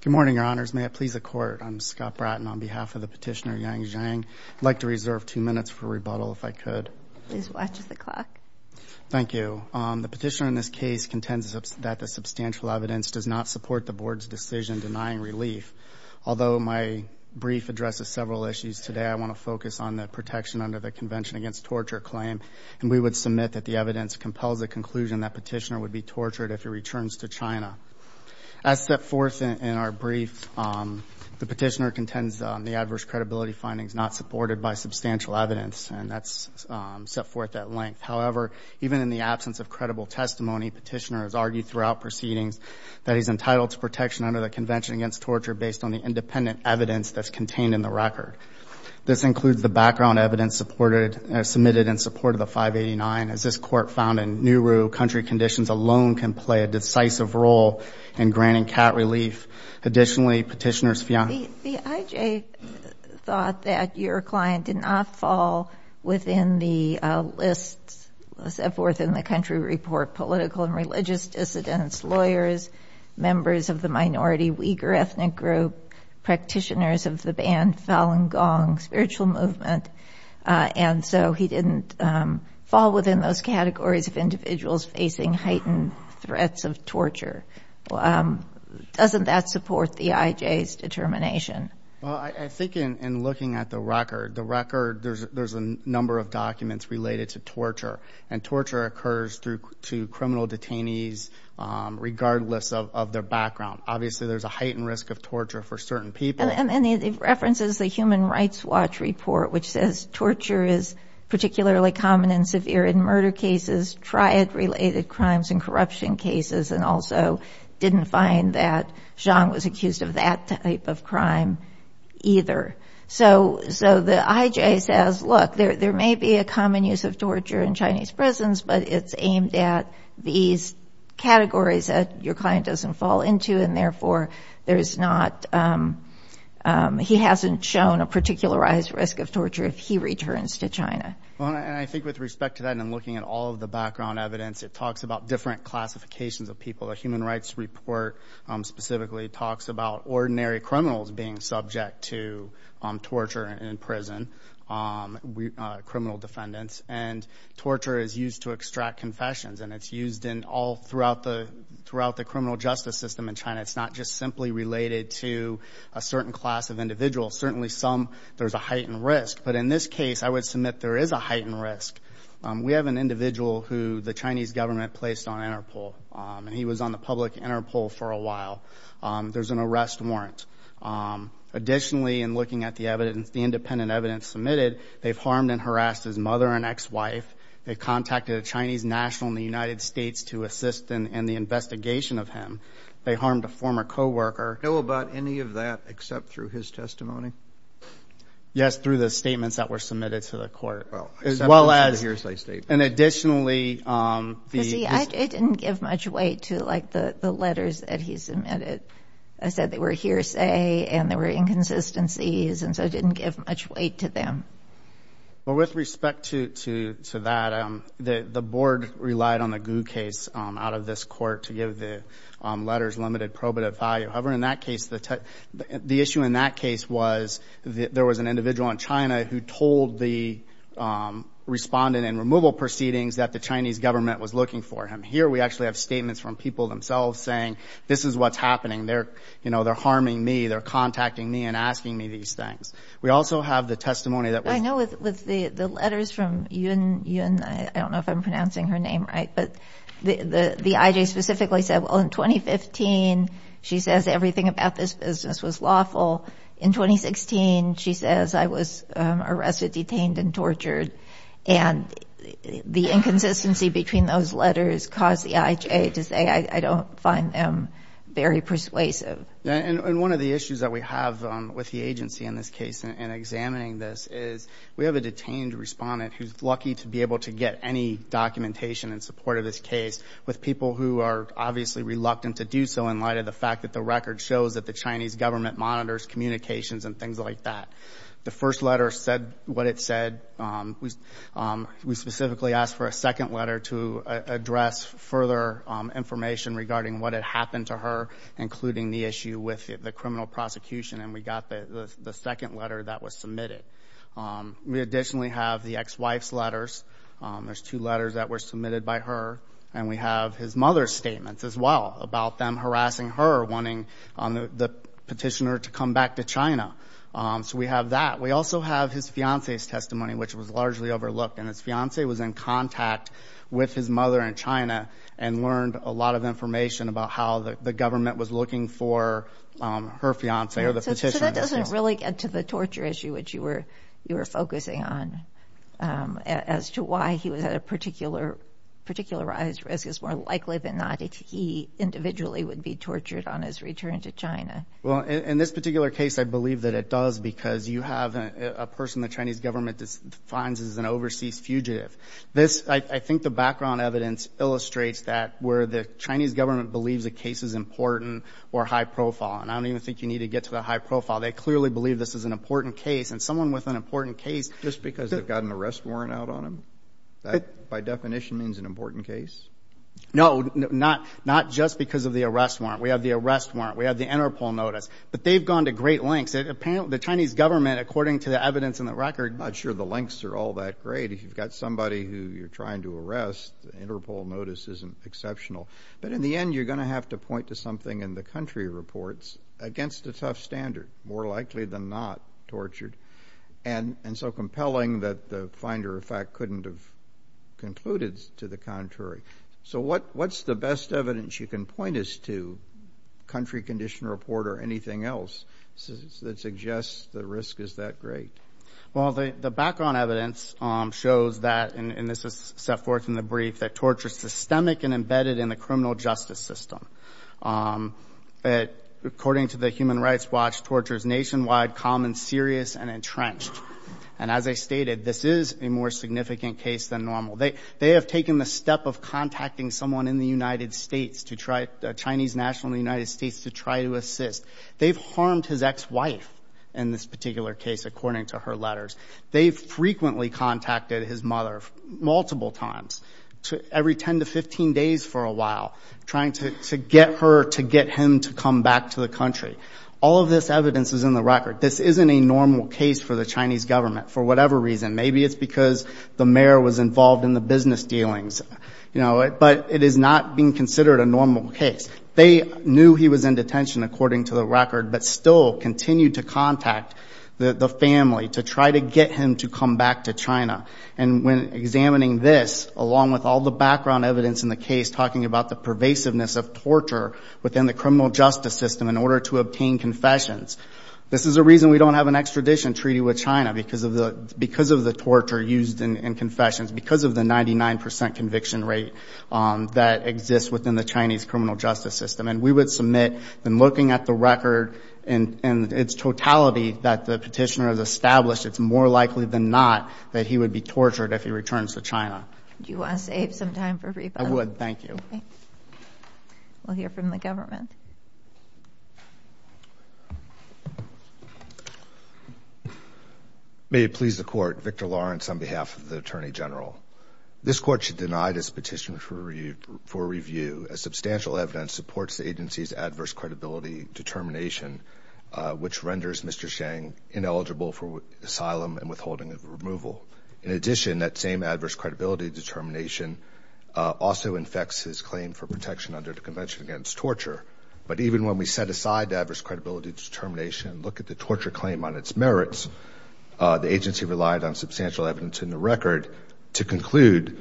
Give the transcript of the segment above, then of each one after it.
Good morning, Your Honors. May it please the Court, I'm Scott Bratton on behalf of the Petitioner Yang Zhang. I'd like to reserve two minutes for rebuttal, if I could. Please watch the clock. Thank you. The Petitioner in this case contends that the substantial evidence does not support the Board's decision denying relief. Although my brief addresses several issues today, I want to focus on the protection under the Convention Against Torture claim, and we would submit that the evidence compels the conclusion that Petitioner would be tortured if he returns to China. As set forth in our brief, the Petitioner contends the adverse credibility findings not supported by substantial evidence, and that's set forth at length. However, even in the absence of credible testimony, Petitioner has argued throughout proceedings that he's entitled to protection under the Convention Against Torture based on the independent evidence that's contained in the record. This includes the background evidence submitted in support of the 589. As this Court found in Nauru, country conditions alone can play a decisive role in granting cat relief. Additionally, Petitioner's fiancée. The IJ thought that your client did not fall within the list set forth in the country report, political and religious dissidents, lawyers, members of the minority Uyghur ethnic group, practitioners of the band Falun Gong, spiritual movement. And so he didn't fall within those categories of individuals facing heightened threats of torture. Doesn't that support the IJ's determination? Well, I think in looking at the record, the record, there's a number of documents related to torture, and torture occurs to criminal detainees regardless of their background. Obviously, there's a heightened risk of torture for certain people. And it references the Human Rights Watch report, which says torture is particularly common and severe in murder cases, triad-related crimes and corruption cases, and also didn't find that Zhang was accused of that type of crime either. So the IJ says, look, there may be a common use of torture in Chinese prisons, but it's aimed at these categories that your client doesn't fall into, and therefore there's not – he hasn't shown a particularized risk of torture if he returns to China. Well, and I think with respect to that and looking at all of the background evidence, it talks about different classifications of people. The Human Rights Report specifically talks about ordinary criminals being subject to torture in prison, criminal defendants. And torture is used to extract confessions, and it's used in all – throughout the criminal justice system in China. It's not just simply related to a certain class of individuals. Certainly some, there's a heightened risk. But in this case, I would submit there is a heightened risk. We have an individual who the Chinese government placed on Interpol, and he was on the public Interpol for a while. There's an arrest warrant. Additionally, in looking at the evidence, the independent evidence submitted, they've harmed and harassed his mother and ex-wife. They contacted a Chinese national in the United States to assist in the investigation of him. They harmed a former coworker. Do you know about any of that except through his testimony? Yes, through the statements that were submitted to the court. Well, except for the hearsay statements. And additionally, the – It didn't give much weight to, like, the letters that he submitted. I said they were hearsay and there were inconsistencies, and so it didn't give much weight to them. Well, with respect to that, the board relied on the Gu case out of this court to give the letters limited probative value. However, in that case, the issue in that case was there was an individual in China who told the respondent in removal proceedings that the Chinese government was looking for him. Here we actually have statements from people themselves saying this is what's happening. They're harming me. They're contacting me and asking me these things. We also have the testimony that was – I know with the letters from Yun – I don't know if I'm pronouncing her name right, but the I.J. specifically said, well, in 2015, she says everything about this business was lawful. In 2016, she says I was arrested, detained, and tortured. And the inconsistency between those letters caused the I.J. to say I don't find them very persuasive. And one of the issues that we have with the agency in this case in examining this is we have a detained respondent who's lucky to be able to get any documentation in support of this case with people who are obviously reluctant to do so in light of the fact that the record shows that the Chinese government monitors communications and things like that. The first letter said what it said. We specifically asked for a second letter to address further information regarding what had happened to her, including the issue with the criminal prosecution, and we got the second letter that was submitted. We additionally have the ex-wife's letters. There's two letters that were submitted by her. And we have his mother's statements as well about them harassing her, wanting the petitioner to come back to China. So we have that. We also have his fiancée's testimony, which was largely overlooked, and his fiancée was in contact with his mother in China and learned a lot of information about how the government was looking for her fiancée or the petitioner. So that doesn't really get to the torture issue, which you were focusing on, as to why he was at a particularized risk. It's more likely than not that he individually would be tortured on his return to China. Well, in this particular case, I believe that it does because you have a person the Chinese government defines as an overseas fugitive. I think the background evidence illustrates that where the Chinese government believes a case is important or high profile, and I don't even think you need to get to the high profile. They clearly believe this is an important case, and someone with an important case. Just because they've got an arrest warrant out on them? That, by definition, means an important case? No, not just because of the arrest warrant. We have the arrest warrant. We have the Interpol notice. But they've gone to great lengths. The Chinese government, according to the evidence in the record. I'm not sure the lengths are all that great. If you've got somebody who you're trying to arrest, the Interpol notice isn't exceptional. But in the end, you're going to have to point to something in the country reports against a tough standard, more likely than not tortured, and so compelling that the finder, in fact, couldn't have concluded to the contrary. So what's the best evidence you can point us to, country condition report or anything else, that suggests the risk is that great? Well, the background evidence shows that, and this is set forth in the brief, that torture is systemic and embedded in the criminal justice system. According to the Human Rights Watch, torture is nationwide, common, serious, and entrenched. And as I stated, this is a more significant case than normal. They have taken the step of contacting someone in the United States, a Chinese national in the United States, to try to assist. They've harmed his ex-wife in this particular case, according to her letters. They've frequently contacted his mother, multiple times, every 10 to 15 days for a while, trying to get her to get him to come back to the country. All of this evidence is in the record. This isn't a normal case for the Chinese government, for whatever reason. Maybe it's because the mayor was involved in the business dealings. But it is not being considered a normal case. They knew he was in detention, according to the record, but still continued to contact the family to try to get him to come back to China. And when examining this, along with all the background evidence in the case, talking about the pervasiveness of torture within the criminal justice system in order to obtain confessions, this is a reason we don't have an extradition treaty with China, because of the torture used in confessions, because of the 99% conviction rate that exists within the Chinese criminal justice system. And we would submit, in looking at the record in its totality that the petitioner has established, it's more likely than not that he would be tortured if he returns to China. Do you want to save some time for rebuttal? I would. Thank you. We'll hear from the government. May it please the Court, Victor Lawrence on behalf of the Attorney General. This Court should deny this petition for review, as substantial evidence supports the agency's adverse credibility determination, which renders Mr. Sheng ineligible for asylum and withholding of removal. In addition, that same adverse credibility determination also infects his claim for protection under the Convention Against Torture. But even when we set aside the adverse credibility determination and look at the torture claim on its merits, the agency relied on substantial evidence in the record to conclude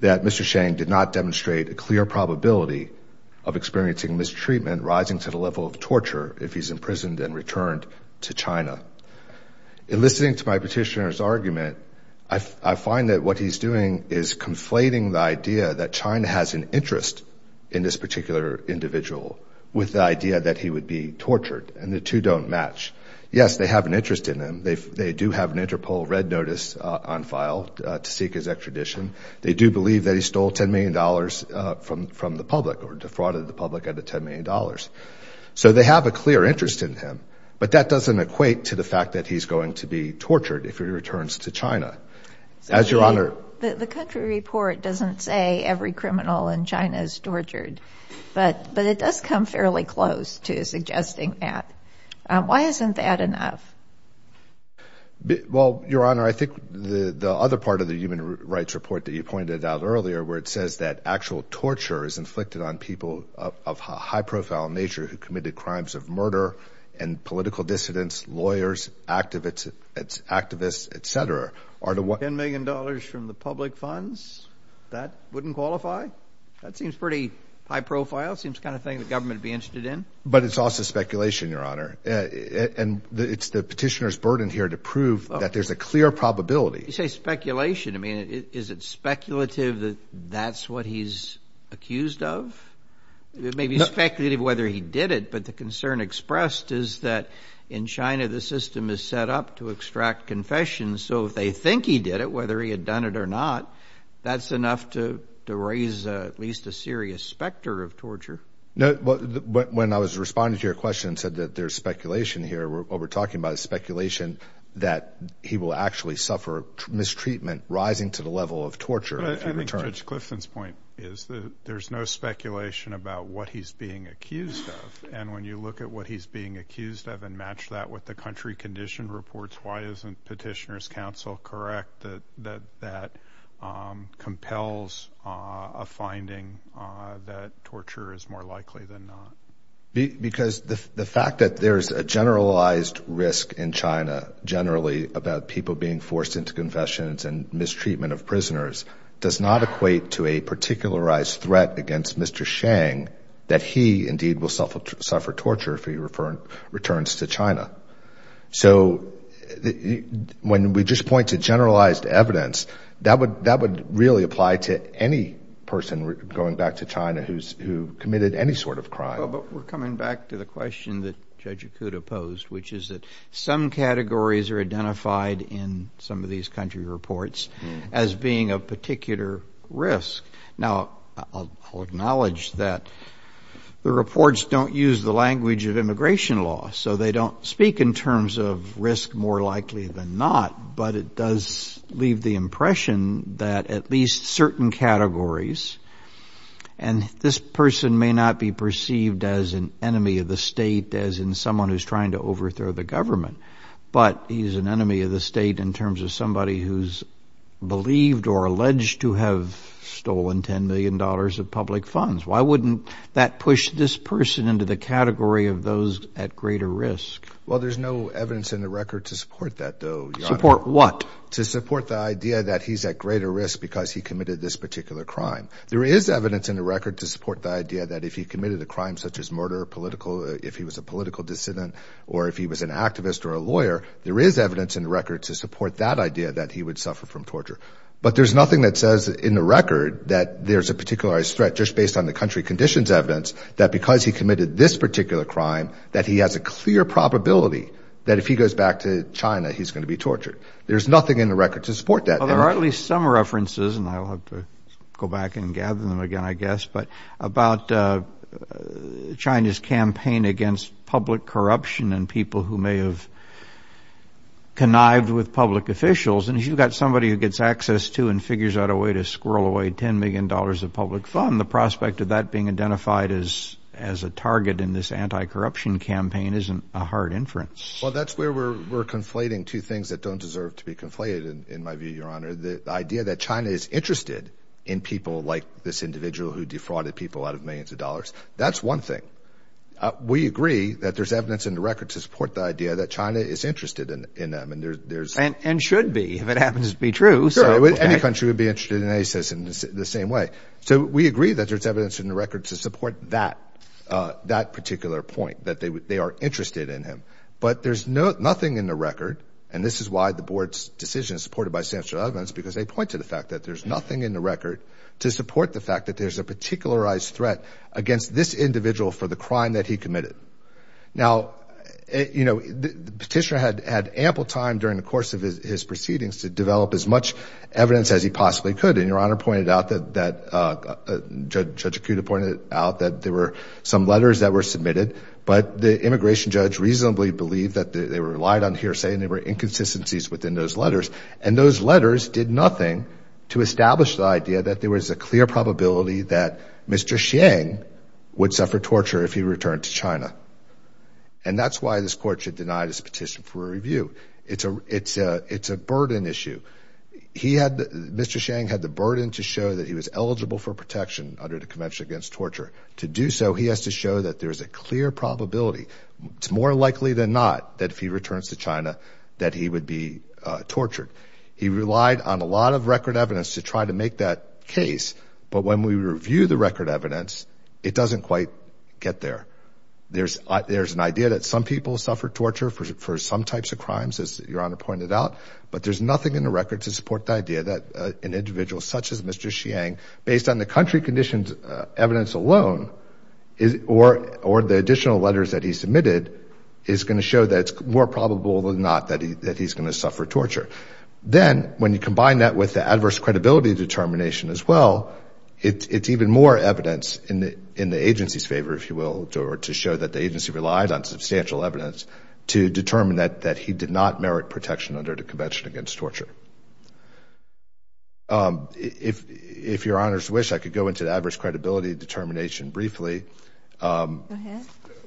that Mr. Sheng did not demonstrate a clear probability of experiencing mistreatment, rising to the level of torture if he's imprisoned and returned to China. In listening to my petitioner's argument, I find that what he's doing is conflating the idea that China has an interest in this particular individual with the idea that he would be tortured, and the two don't match. Yes, they have an interest in him. They do have an Interpol red notice on file to seek his extradition. They do believe that he stole $10 million from the public or defrauded the public out of $10 million. So they have a clear interest in him. But that doesn't equate to the fact that he's going to be tortured if he returns to China. The country report doesn't say every criminal in China is tortured, but it does come fairly close to suggesting that. Why isn't that enough? Well, Your Honor, I think the other part of the human rights report that you pointed out earlier, where it says that actual torture is inflicted on people of high-profile nature who committed crimes of murder and political dissidents, lawyers, activists, et cetera, are the ones— $10 million from the public funds? That wouldn't qualify? That seems pretty high-profile. It seems the kind of thing the government would be interested in. But it's also speculation, Your Honor. And it's the petitioner's burden here to prove that there's a clear probability. You say speculation. I mean, is it speculative that that's what he's accused of? It may be speculative whether he did it, but the concern expressed is that in China the system is set up to extract confessions. So if they think he did it, whether he had done it or not, that's enough to raise at least a serious specter of torture. No, but when I was responding to your question and said that there's speculation here, what we're talking about is speculation that he will actually suffer mistreatment, rising to the level of torture. But I think Judge Clifton's point is that there's no speculation about what he's being accused of. And when you look at what he's being accused of and match that with the country condition reports, why isn't petitioner's counsel correct that that compels a finding that torture is more likely than not? Because the fact that there's a generalized risk in China, generally about people being forced into confessions and mistreatment of prisoners, does not equate to a particularized threat against Mr. Shang that he, indeed, will suffer torture if he returns to China. So when we just point to generalized evidence, that would really apply to any person going back to China who committed any sort of crime. But we're coming back to the question that Judge Okuda posed, which is that some categories are identified in some of these country reports as being of particular risk. Now, I'll acknowledge that the reports don't use the language of immigration law, so they don't speak in terms of risk more likely than not, but it does leave the impression that at least certain categories, and this person may not be perceived as an enemy of the state, as in someone who's trying to overthrow the government, but he's an enemy of the state in terms of somebody who's believed or alleged to have stolen $10 million of public funds. Why wouldn't that push this person into the category of those at greater risk? Well, there's no evidence in the record to support that, though, Your Honor. Support what? To support the idea that he's at greater risk because he committed this particular crime. There is evidence in the record to support the idea that if he committed a crime such as murder, if he was a political dissident, or if he was an activist or a lawyer, there is evidence in the record to support that idea that he would suffer from torture. But there's nothing that says in the record that there's a particularized threat just based on the country conditions evidence that because he committed this particular crime that he has a clear probability that if he goes back to China he's going to be tortured. There's nothing in the record to support that. Well, there are at least some references, and I'll have to go back and gather them again, I guess, but about China's campaign against public corruption and people who may have connived with public officials. And if you've got somebody who gets access to and figures out a way to squirrel away $10 million of public fund, the prospect of that being identified as a target in this anti-corruption campaign isn't a hard inference. Well, that's where we're conflating two things that don't deserve to be conflated, in my view, Your Honor. The idea that China is interested in people like this individual who defrauded people out of millions of dollars. That's one thing. We agree that there's evidence in the record to support the idea that China is interested in them. And should be, if it happens to be true. Sure, any country would be interested in ISIS in the same way. So we agree that there's evidence in the record to support that particular point, that they are interested in him. But there's nothing in the record, and this is why the board's decision is supported by Sanford Osment, because they point to the fact that there's nothing in the record to support the fact that there's a particularized threat against this individual for the crime that he committed. Now, you know, the petitioner had ample time during the course of his proceedings to develop as much evidence as he possibly could. And Your Honor pointed out that, Judge Akuta pointed out that there were some letters that were submitted, but the immigration judge reasonably believed that they were relied on hearsay and there were inconsistencies within those letters. And those letters did nothing to establish the idea that there was a clear probability that Mr. And that's why this court should deny this petition for review. It's a it's a it's a burden issue. He had Mr. Chang had the burden to show that he was eligible for protection under the Convention Against Torture. To do so, he has to show that there is a clear probability. It's more likely than not that if he returns to China, that he would be tortured. He relied on a lot of record evidence to try to make that case. But when we review the record evidence, it doesn't quite get there. There's there's an idea that some people suffer torture for some types of crimes, as Your Honor pointed out. But there's nothing in the record to support the idea that an individual such as Mr. Chang, based on the country conditions, evidence alone is or or the additional letters that he submitted, is going to show that it's more probable than not that he that he's going to suffer torture. Then when you combine that with the adverse credibility determination as well, it's even more evidence in the in the agency's favor, if you will, or to show that the agency relied on substantial evidence to determine that that he did not merit protection under the Convention Against Torture. If if Your Honor's wish, I could go into the adverse credibility determination briefly.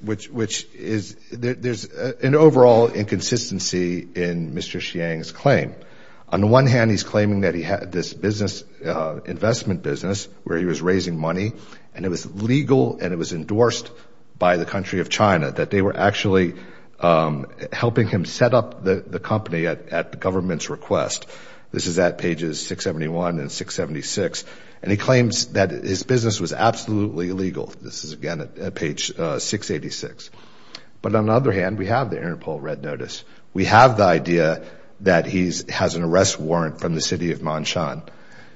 Which which is there's an overall inconsistency in Mr. Chang's claim. On the one hand, he's claiming that he had this business investment business where he was raising money and it was legal and it was endorsed by the country of China, that they were actually helping him set up the company at the government's request. This is at pages 671 and 676. And he claims that his business was absolutely illegal. This is again at page 686. But on the other hand, we have the Interpol red notice. We have the idea that he's has an arrest warrant from the city of Monshan.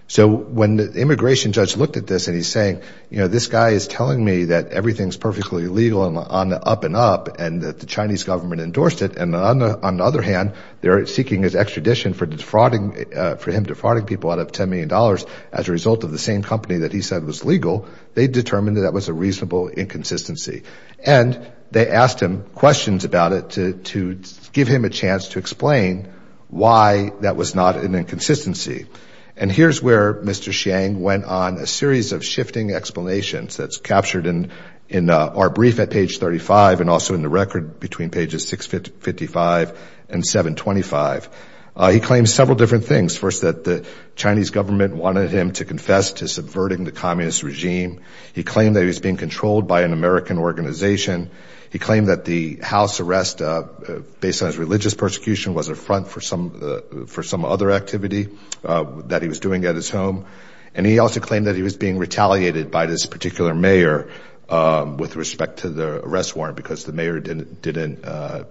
So when the immigration judge looked at this and he's saying, you know, this guy is telling me that everything's perfectly legal on the up and up and that the Chinese government endorsed it. And on the other hand, they're seeking his extradition for defrauding for him, defrauding people out of ten million dollars as a result of the same company that he said was legal. They determined that that was a reasonable inconsistency. And they asked him questions about it to to give him a chance to explain why that was not an inconsistency. And here's where Mr. Chang went on a series of shifting explanations. That's captured in in our brief at page 35 and also in the record between pages 655 and 725. He claims several different things. First, that the Chinese government wanted him to confess to subverting the communist regime. He claimed that he was being controlled by an American organization. He claimed that the house arrest based on his religious persecution was a front for some for some other activity that he was doing at his home. And he also claimed that he was being retaliated by this particular mayor with respect to the arrest warrant because the mayor didn't didn't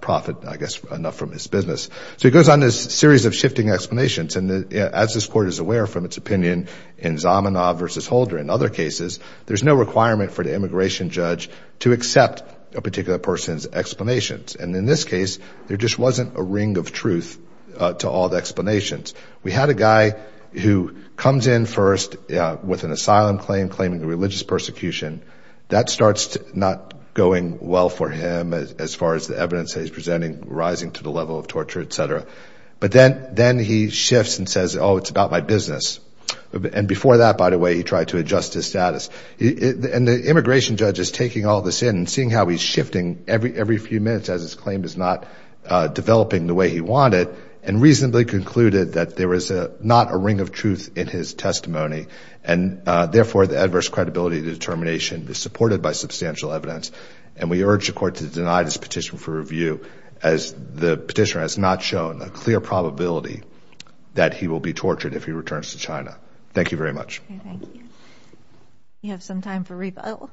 profit, I guess, enough from his business. So he goes on this series of shifting explanations. And as this court is aware from its opinion in Zamenhof versus Holder and other cases, there's no requirement for the immigration judge to accept a particular person's explanations. And in this case, there just wasn't a ring of truth to all the explanations. We had a guy who comes in first with an asylum claim claiming a religious persecution that starts not going well for him. As far as the evidence he's presenting, rising to the level of torture, etc. But then then he shifts and says, oh, it's about my business. And before that, by the way, he tried to adjust his status. And the immigration judge is taking all this in and seeing how he's shifting every every few minutes as his claim is not developing the way he wanted and reasonably concluded that there was not a ring of truth in his testimony. And therefore, the adverse credibility determination is supported by substantial evidence. And we urge the court to deny this petition for review as the petitioner has not shown a clear probability that he will be tortured if he returns to China. Thank you very much. Thank you. You have some time for rebuttal.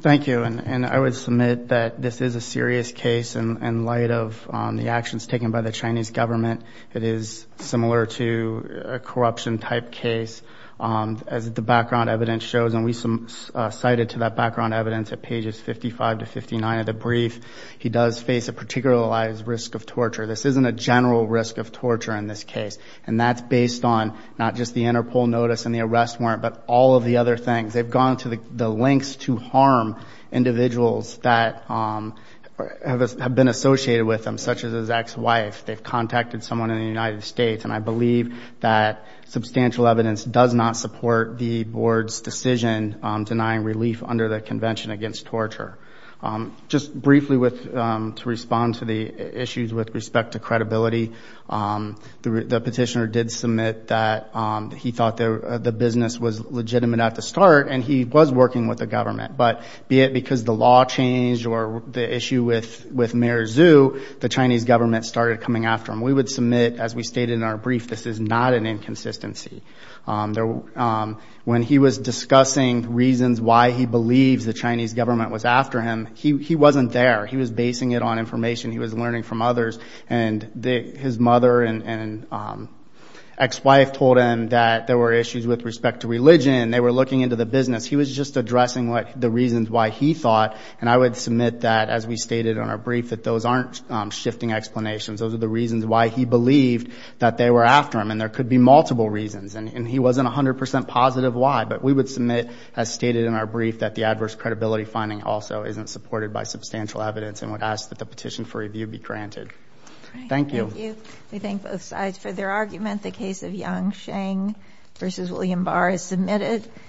Thank you. And I would submit that this is a serious case in light of the actions taken by the Chinese government. It is similar to a corruption type case, as the background evidence shows. And we cited to that background evidence at pages 55 to 59 of the brief. He does face a particularized risk of torture. This isn't a general risk of torture in this case. And that's based on not just the Interpol notice and the arrest warrant, but all of the other things. They've gone to the lengths to harm individuals that have been associated with them, such as his ex-wife. They've contacted someone in the United States. And I believe that substantial evidence does not support the board's decision denying relief under the Convention Against Torture. Just briefly to respond to the issues with respect to credibility, the petitioner did submit that he thought the business was legitimate at the start. But be it because the law changed or the issue with Mayor Zhu, the Chinese government started coming after him. We would submit, as we stated in our brief, this is not an inconsistency. When he was discussing reasons why he believes the Chinese government was after him, he wasn't there. He was basing it on information he was learning from others. And his mother and ex-wife told him that there were issues with respect to religion. They were looking into the business. He was just addressing the reasons why he thought. And I would submit that, as we stated in our brief, that those aren't shifting explanations. Those are the reasons why he believed that they were after him. And there could be multiple reasons. And he wasn't 100 percent positive why. But we would submit, as stated in our brief, that the adverse credibility finding also isn't supported by substantial evidence and would ask that the petition for review be granted. Thank you. Thank you. We thank both sides for their argument. The case of Yang Sheng v. William Barr is submitted.